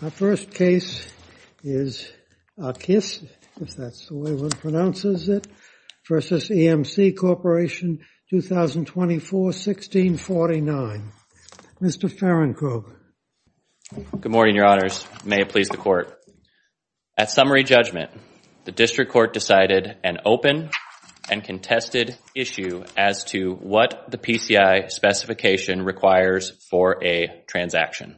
Our first case is Aqqis, if that's the way one pronounces it, v. EMC Corporation, 2024-1649. Mr. Ferencog. Good morning, your honors. May it please the court. At summary judgment, the district court decided an open and contested issue as to what the PCI specification requires for a transaction.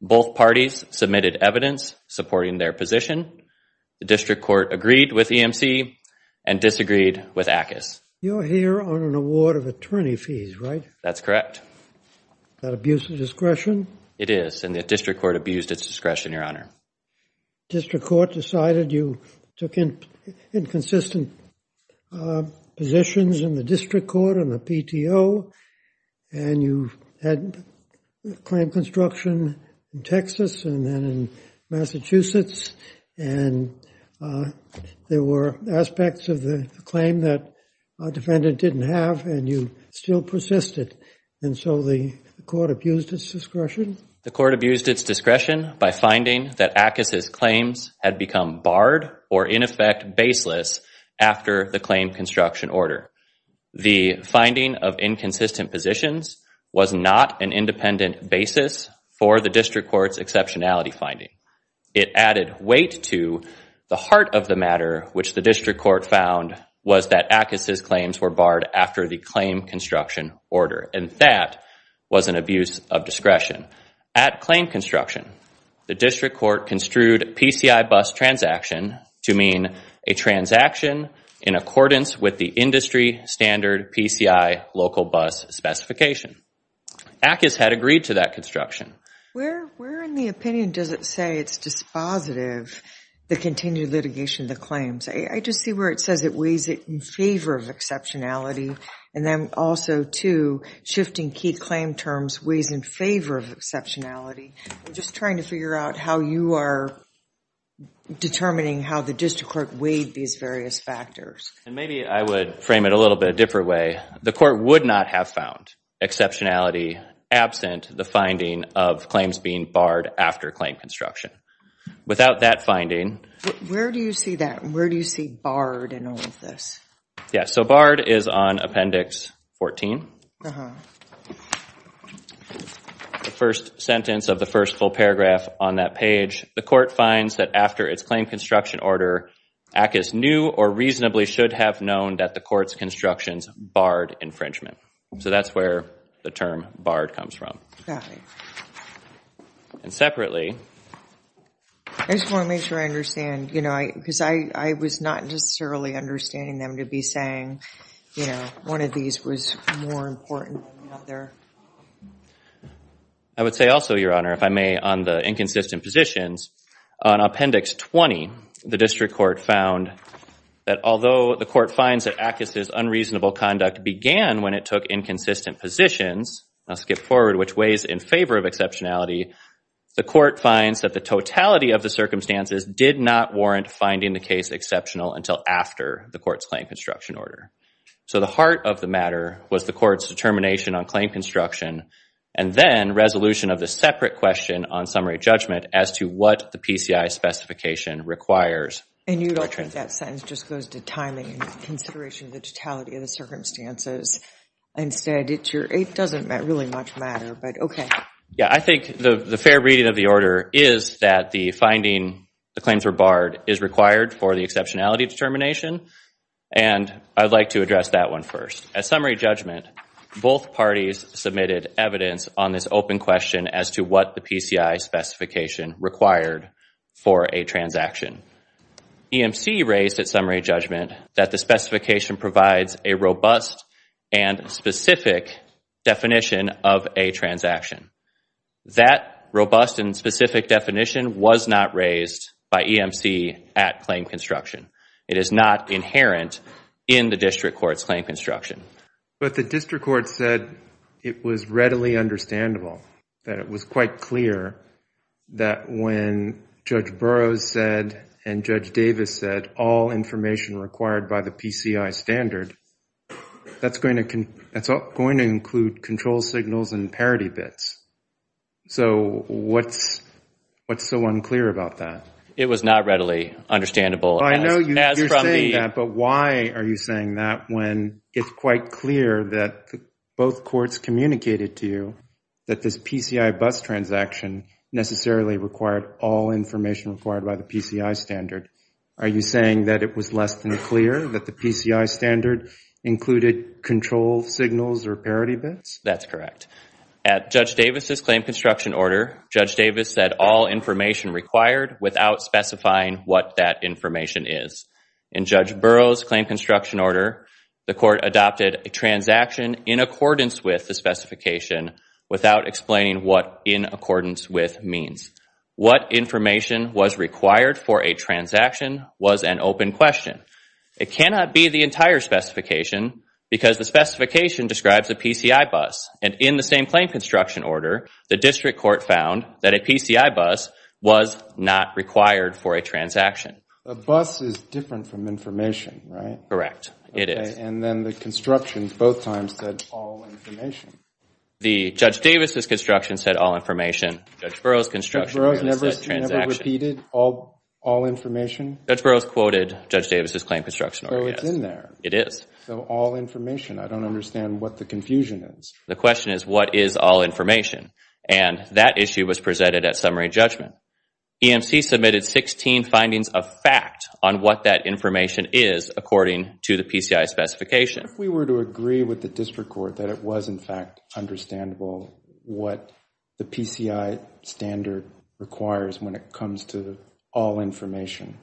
Both parties submitted evidence supporting their position. The district court agreed with EMC and disagreed with Aqqis. You're here on an award of attorney fees, right? That's correct. That abuses discretion? It is, and the district court abused its discretion, your honor. District court decided you took inconsistent positions in the district court on the PTO and you had claim construction in Texas and then in Massachusetts and there were aspects of the claim that a defendant didn't have and you still persisted. And so the court abused its discretion? The court abused its discretion by finding that Aqqis' claims had become barred or in effect baseless after the claim construction order. The finding of inconsistent positions was not an independent basis for the district court's exceptionality finding. It added weight to the heart of the matter, which the district court found was that Aqqis' claims were barred after the claim construction order. And that was an abuse of discretion. At claim construction, the district court construed PCI bus transaction to mean a transaction in accordance with the industry standard PCI local bus specification. Aqqis had agreed to that construction. Where in the opinion does it say it's dispositive, the continued litigation of the claims? I just see where it says it weighs it in favor of exceptionality and then also too, shifting key claim terms weighs in favor of exceptionality. I'm just trying to figure out how you are determining how the district court weighed these various factors. And maybe I would frame it a little bit a different way. The court would not have found exceptionality absent the finding of claims being barred after claim construction. Without that finding... Where do you see that? Where do you see barred in all of this? Yeah, so barred is on appendix 14. The first sentence of the first full paragraph on that page, the court finds that after its claim construction order, Aqqis knew or reasonably should have known that the court's constructions barred infringement. So that's where the term barred comes from. And separately... I just want to make sure I understand, you know, because I was not necessarily understanding them to be saying, you know, one of these was more important than the other. I would say also, Your Honor, if I may, on the inconsistent positions, on appendix 20, the district court found that although the court finds that Aqqis' unreasonable conduct began when it took inconsistent positions, I'll skip forward, which weighs in favor of exceptionality, the court finds that the totality of the circumstances did not warrant finding the case exceptional until after the court's claim construction order. So the heart of the matter was the court's determination on claim construction and then resolution of the separate question on summary judgment as to what the PCI specification requires. And you don't think that sentence just goes to timing and consideration of the totality of the circumstances and said it's your... It doesn't really much matter, but okay. Yeah, I think the fair reading of the order is that the finding the claims were barred is required for the exceptionality determination, and I'd like to address that one first. As summary judgment, both parties submitted evidence on this open question as to what the PCI specification required for a transaction. EMC raised at summary judgment that the specification provides a robust and specific definition of a transaction. That robust and specific definition was not raised by EMC at claim construction. It is not inherent in the district court's claim construction. But the district court said it was readily understandable, that it was quite clear that when Judge Burroughs said and Judge Davis said all information required by the PCI standard, that's going to include control signals and parity bits. So what's so unclear about that? It was not readily understandable. I know you're saying that, but why are you saying that when it's quite clear that both courts communicated to you that this PCI bus transaction necessarily required all information required by the PCI standard? Are you saying that it was less than clear that the PCI standard included control signals or parity bits? That's correct. At Judge Davis' claim construction order, Judge Davis said all information required without specifying what that information is. In Judge Burroughs' claim construction order, the court adopted a transaction in accordance with the specification without explaining what in accordance with means. What information was required for a transaction was an open question. It cannot be the entire specification because the specification describes a PCI bus. And in the same claim construction order, the district court found that a PCI bus was not required for a transaction. A bus is different from information, right? Correct, it is. And then the construction both times said all information. The Judge Davis' construction said all information. Judge Burroughs' construction said transaction. Judge Burroughs never repeated all information? Judge Burroughs quoted Judge Davis' claim construction order, yes. So it's in there. It is. So all information. I don't understand what the confusion is. The question is what is all information? And that issue was presented at summary judgment. EMC submitted 16 findings of fact on what that information is according to the PCI specification. If we were to agree with district court that it was in fact understandable what the PCI standard requires when it comes to all information.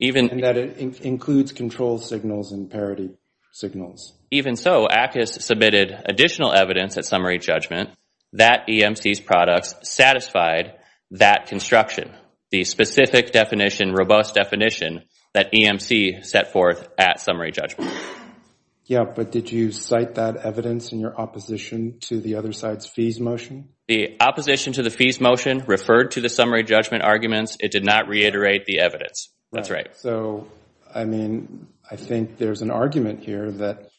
And that it includes control signals and parity signals. Even so, ACUS submitted additional evidence at summary judgment that EMC's products satisfied that construction, the specific definition, robust definition that EMC set forth at summary judgment. Yeah, but did you cite that evidence in your opposition to the other side's fees motion? The opposition to the fees motion referred to the summary judgment arguments. It did not reiterate the evidence. That's right. So, I mean, I think there's an argument here that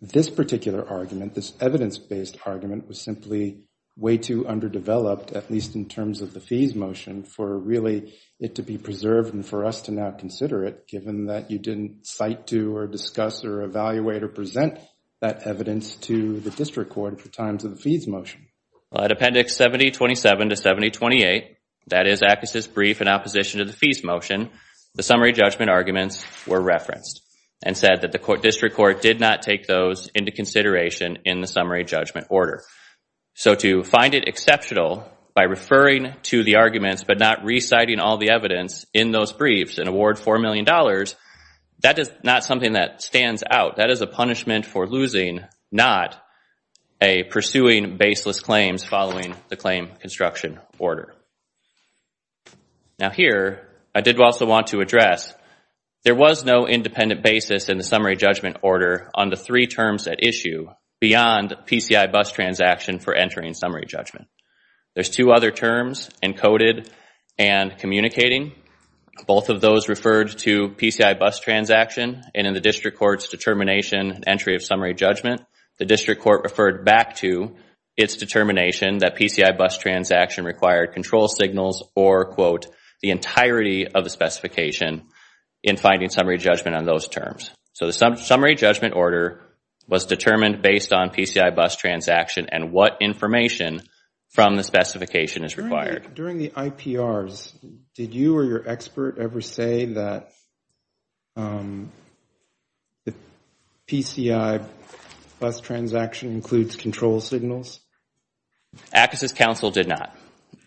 this particular argument, this evidence-based argument, was simply way too underdeveloped, at least in terms of the fees motion, for really it to be preserved and for us to now consider it, that you didn't cite to or discuss or evaluate or present that evidence to the district court at the time of the fees motion. Well, at appendix 7027 to 7028, that is ACUS's brief in opposition to the fees motion, the summary judgment arguments were referenced and said that the district court did not take those into consideration in the summary judgment order. So to find it exceptional by referring to the arguments but not reciting all the evidence in those briefs and award four million dollars, that is not something that stands out. That is a punishment for losing, not a pursuing baseless claims following the claim construction order. Now here, I did also want to address, there was no independent basis in the summary judgment order on the three terms at issue beyond PCI bus transaction for entering summary judgment. There's two other terms, encoded and communicating. Both of those referred to PCI bus transaction and in the district court's determination entry of summary judgment, the district court referred back to its determination that PCI bus transaction required control signals or, quote, the entirety of the specification in finding summary judgment on those terms. So the summary judgment order was determined based on PCI bus transaction and what information from the specification is required. During the IPRs, did you or your expert ever say that the PCI bus transaction includes control signals? ACUS's counsel did not.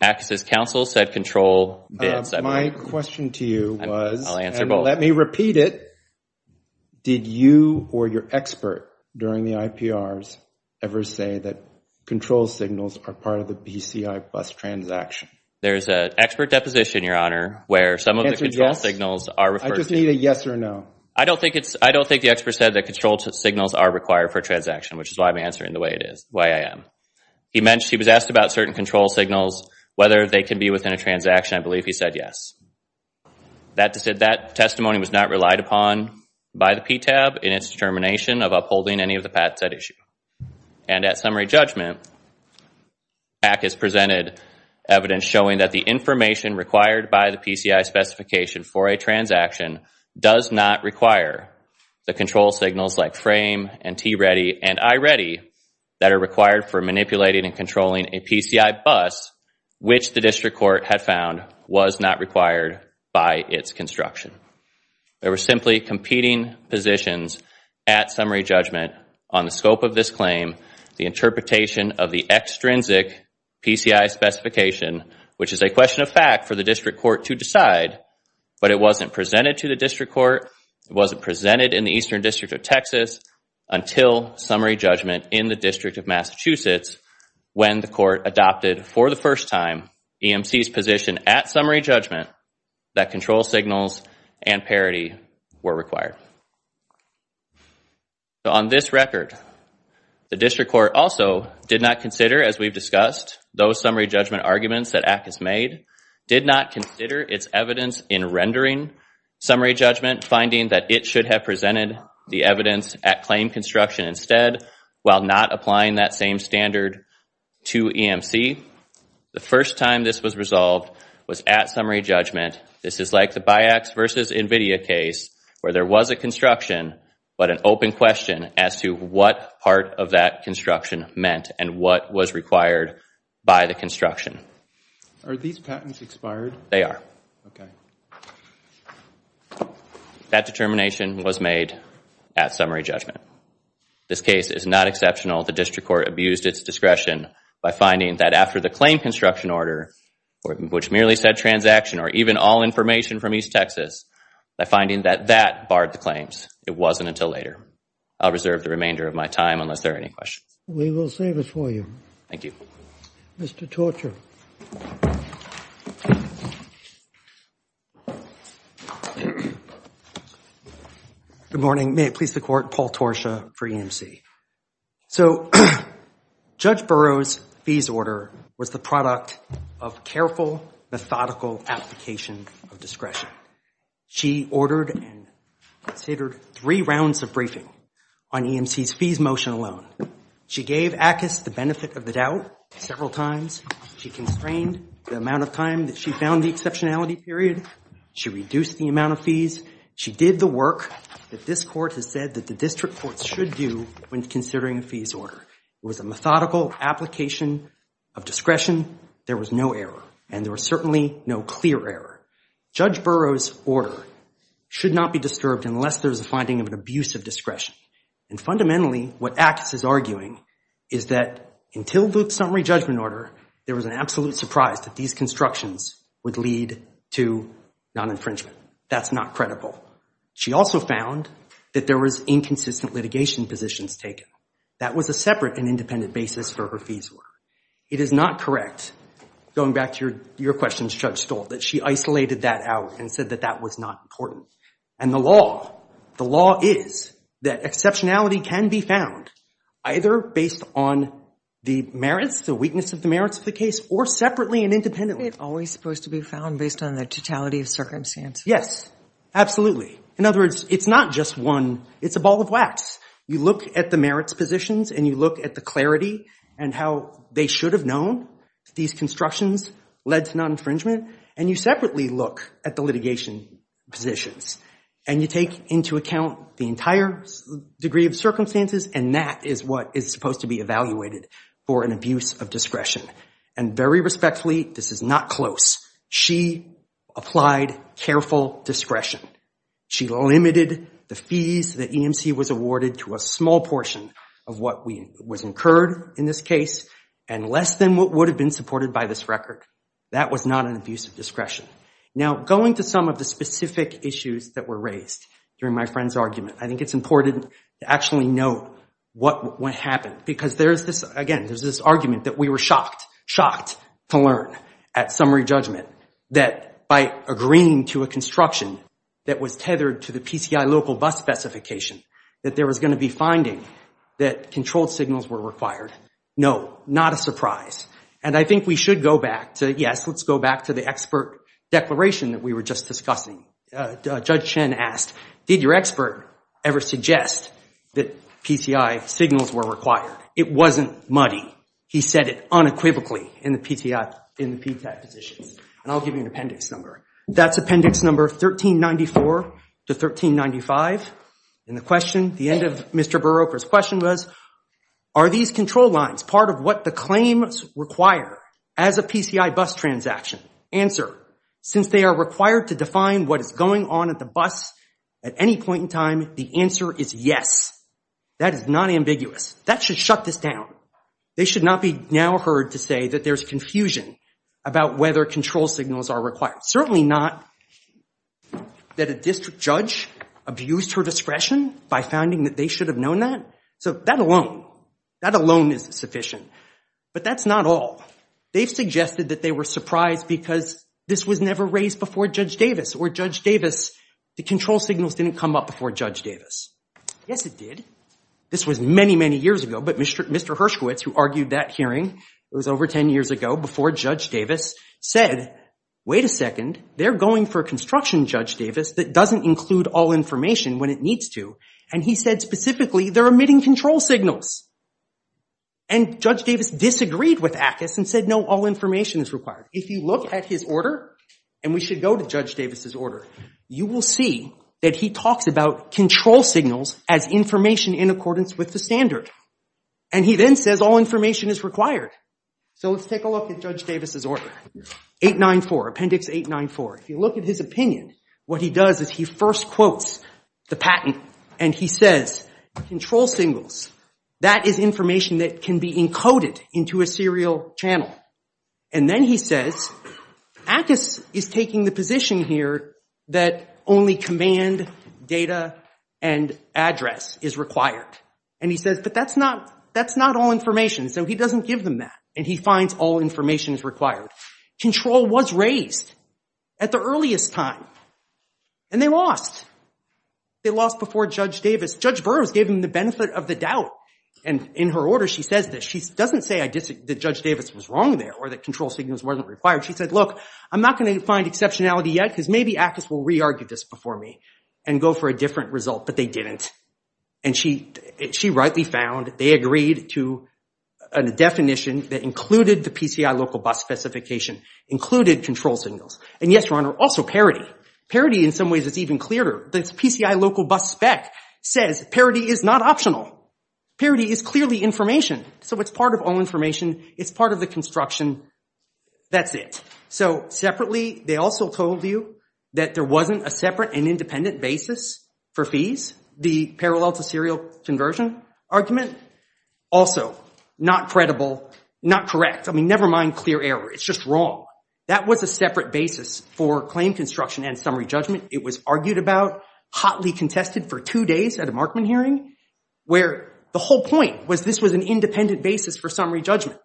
ACUS's counsel said control My question to you was, and let me repeat it, did you or your expert during the IPRs ever say that control signals are part of the PCI bus transaction? There's an expert deposition, your honor, where some of the control signals are referred to. I just need a yes or no. I don't think it's, I don't think the expert said that control signals are required for transaction, which is why I'm answering the way it is, the way I am. He mentioned, he was asked about certain control signals, whether they can be within a transaction. I believe he said yes. That testimony was not relied upon by the PTAB in its determination of upholding any of the patents at issue. And at summary judgment, ACUS presented evidence showing that the information required by the PCI specification for a transaction does not require the control signals like frame and T-Ready and I-Ready that are required for manipulating and controlling a PCI bus, which the district court had found was not required by its construction. There were simply competing positions at summary judgment on the scope of this claim, the interpretation of the extrinsic PCI specification, which is a question of fact for the district court to decide, but it wasn't presented to the district court, it wasn't presented in the Eastern District of Texas until summary judgment in the District of Massachusetts when the court adopted for the first time EMC's position at summary judgment that control signals and parity were required. So on this record, the district court also did not consider, as we've discussed, those summary judgment arguments that ACUS made, did not consider its evidence in rendering summary judgment, finding that it should have presented the evidence at claim construction instead while not applying that same standard to EMC. The first time this was resolved was at summary judgment. This is like the BIACS versus NVIDIA case where there was a construction, but an open question as to what part of that construction meant and what was required by the construction. Are these patents expired? They are. Okay. That determination was made at summary judgment. This case is not exceptional. The district court abused its discretion by finding that after the claim construction order, which merely said transaction or even all information from East Texas, by finding that that barred the claims, it wasn't until later. I'll reserve the remainder of my time unless there are any questions. We will save it for you. Thank you. Mr. Torscha. Good morning. May it please the court, Paul Torscha for EMC. So Judge Burroughs' fees order was the product of careful, methodical application of discretion. She ordered and considered three rounds of briefing on EMC's fees motion alone. She gave ACUS the benefit of the doubt several times. She constrained the amount of time that she found the exceptionality period. She reduced the amount of fees. She did the work that this court has said that the district court should do when considering a fees order. It was a methodical application of discretion. There was no error, and there was certainly no clear error. Judge Burroughs' order should not be disturbed unless there's a finding of an abuse of discretion. And fundamentally, what ACUS is arguing is that until Luke's summary judgment order, there was an absolute surprise that these constructions would lead to non-infringement. That's not credible. She also found that there was inconsistent litigation positions taken. That was a separate and independent basis for her fees order. It is not correct, going back to your questions, Judge Burroughs. The law is that exceptionality can be found either based on the merits, the weakness of the merits of the case, or separately and independently. It's always supposed to be found based on the totality of circumstance. Yes, absolutely. In other words, it's not just one. It's a ball of wax. You look at the merits positions, and you look at the clarity and how they should have known that these constructions led to non-infringement, and you separately look at the litigation positions. And you take into account the entire degree of circumstances, and that is what is supposed to be evaluated for an abuse of discretion. And very respectfully, this is not close. She applied careful discretion. She limited the fees that EMC was awarded to a small portion of what was incurred in this case, and less than what would have been supported by this record. That was not an abuse of discretion. Now, going to some of the specific issues that were raised during my friend's argument, I think it's important to actually note what happened. Because there's this, again, there's this argument that we were shocked, shocked to learn at summary judgment that by agreeing to a construction that was tethered to the PCI local bus specification, that there was no, not a surprise. And I think we should go back to, yes, let's go back to the expert declaration that we were just discussing. Judge Chen asked, did your expert ever suggest that PCI signals were required? It wasn't muddy. He said it unequivocally in the PCI positions. And I'll give you an appendix number. That's appendix number 1394 to 1395. And the question, the end of Mr. Berropa's question was, are these control lines part of what the claims require as a PCI bus transaction? Answer, since they are required to define what is going on at the bus at any point in time, the answer is yes. That is not ambiguous. That should shut this down. They should not be now heard to say that there's confusion about whether control signals are required. Certainly not that a district judge abused her discretion by founding that they should have known that. So that alone, that alone is sufficient. But that's not all. They've suggested that they were surprised because this was never raised before Judge Davis. Or Judge Davis, the control signals didn't come up before Judge Davis. Yes, it did. This was many, many years ago. But Mr. Hershkowitz, who argued that hearing, it was over 10 years ago, before Judge Davis, said, wait a second, they're going for construction, Judge Davis, that doesn't include all information when it needs to. And he said, specifically, they're omitting control signals. And Judge Davis disagreed with ACUS and said, no, all information is required. If you look at his order, and we should go to Judge Davis's order, you will see that he talks about control signals as information in accordance with the standard. And he then says all information is required. So let's take a look at Judge Davis's order, 894, Appendix 894. If you look at his opinion, what he does is he first quotes the patent. And he says, control signals, that is information that can be encoded into a serial channel. And then he says, ACUS is taking the position here that only command data and address is required. And he says, but that's not all information. So he doesn't give them that. And he finds all information is required. Control was raised at the earliest time. And they lost. They lost before Judge Davis. Judge Burroughs gave him the benefit of the doubt. And in her order, she says this. She doesn't say that Judge Davis was wrong there or that control signals weren't required. She said, look, I'm not going to find exceptionality yet because maybe ACUS will re-argue this before me and go for a different result. But they didn't. And she rightly found they agreed to a definition that included the PCI local bus specification, included control signals. And yes, Your Honor, also parity. Parity in some ways is even clearer. The PCI local bus spec says parity is not optional. Parity is clearly information. So it's part of all information. It's part of the construction. That's it. So separately, they also told you that there wasn't a separate and independent basis for fees, the parallel to serial conversion argument. Also, not credible, not correct. I mean, never mind clear error. It's just wrong. That was a separate basis for claim construction and summary judgment. It was argued about, hotly contested for two days at a Markman hearing, where the whole point was this was an independent basis for summary judgment.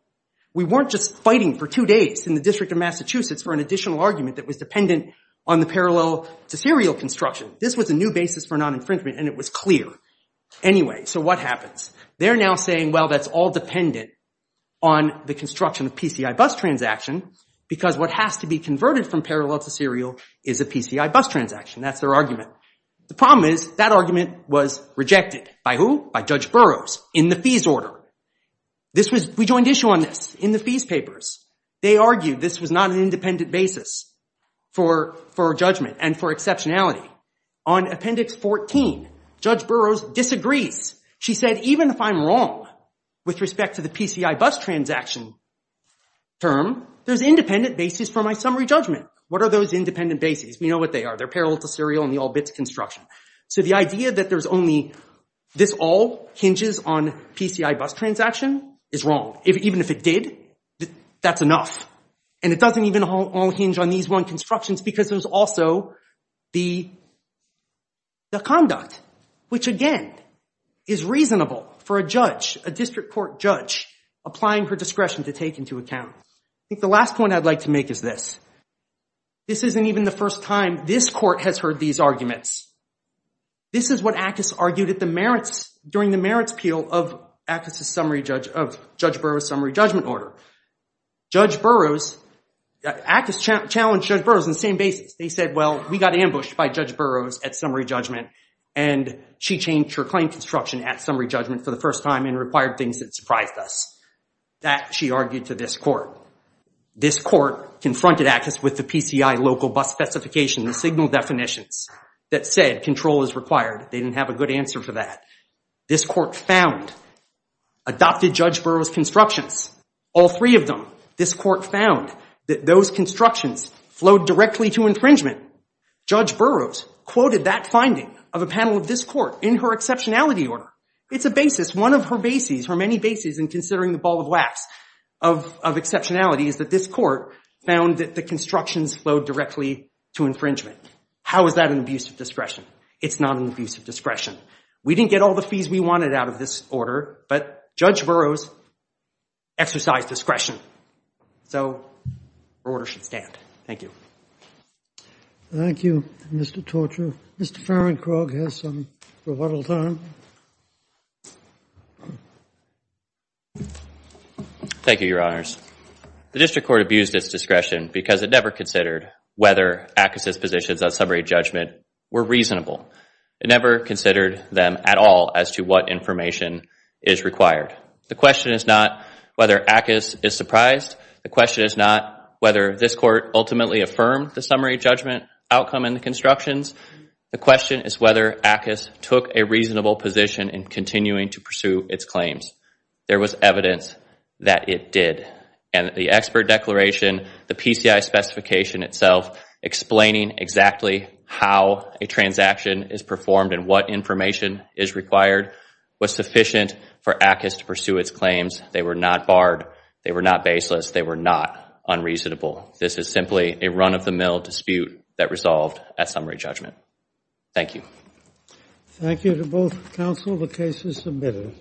We weren't just fighting for two days in the District of Massachusetts for an additional argument that was dependent on the parallel to serial construction. This was a new basis for non-infringement, and it was clear. Anyway, so what happens? They're now saying, well, that's all dependent on the construction of PCI bus transaction, because what has to be converted from parallel to serial is a PCI bus transaction. That's their argument. The problem is that argument was rejected. By who? By Judge Burroughs in the fees order. This was, we joined issue on this in the fees papers. They argued this was not an independent basis for judgment and for exceptionality. On appendix 14, Judge Burroughs disagrees. She said, even if I'm wrong with respect to the PCI bus transaction term, there's independent basis for my summary judgment. What are those independent bases? We know what they are. They're parallel to serial and the all bits construction. So the idea that there's only, this all hinges on PCI bus transaction is wrong. Even if it did, that's enough. And it doesn't even all hinge on these one constructions, because there's also the conduct, which again, is reasonable for a judge, a district court judge, applying her discretion to take into account. I think the last point I'd like to make is this. This isn't even the first time this court has heard these arguments. This is what Ackes argued at the merits, during the merits appeal of Ackes' summary judge, of Judge Burroughs' summary judgment order. Judge Burroughs, Ackes challenged Judge Burroughs on the same basis. They said, well, we got ambushed by Judge Burroughs at summary judgment and she changed her claim construction at summary judgment for the first time and required things that surprised us. That, she argued to this court. This court confronted Ackes with the PCI local bus specification, the signal definitions, that said control is required. They didn't have a good answer for that. This court found, adopted Judge Burroughs' constructions, all three of them. This court found that those constructions flowed directly to infringement. Judge Burroughs quoted that finding of a panel of this court in her exceptionality order. It's a basis, one of her bases, her many bases in considering the ball of wax of exceptionality, is that this court found that the constructions flowed directly to infringement. How is that an abuse of discretion? It's not an abuse of discretion. We didn't get all the fees we wanted out of this order, but Judge Burroughs exercised discretion. So, her order should stand. Thank you. Thank you, Mr. Torture. Mr. Farringcrogg has some rebuttal time. Thank you, Your Honors. The district court abused its discretion because it never considered whether Ackes' positions on summary judgment were reasonable. It never considered them at all as to what information is required. The question is not whether Ackes is surprised. The question is not whether this court ultimately affirmed the summary judgment outcome in the constructions. The question is whether Ackes took a reasonable position. The question is not whether Ackes took a reasonable position in continuing to pursue its claims. There was evidence that it did. And the expert declaration, the PCI specification itself explaining exactly how a transaction is performed and what information is required was sufficient for Ackes to pursue its claims. They were not barred. They were not baseless. They were not unreasonable. This is simply a run-of-the-mill dispute that resolved at summary judgment. Thank you. Thank you to both counsel. The case is submitted.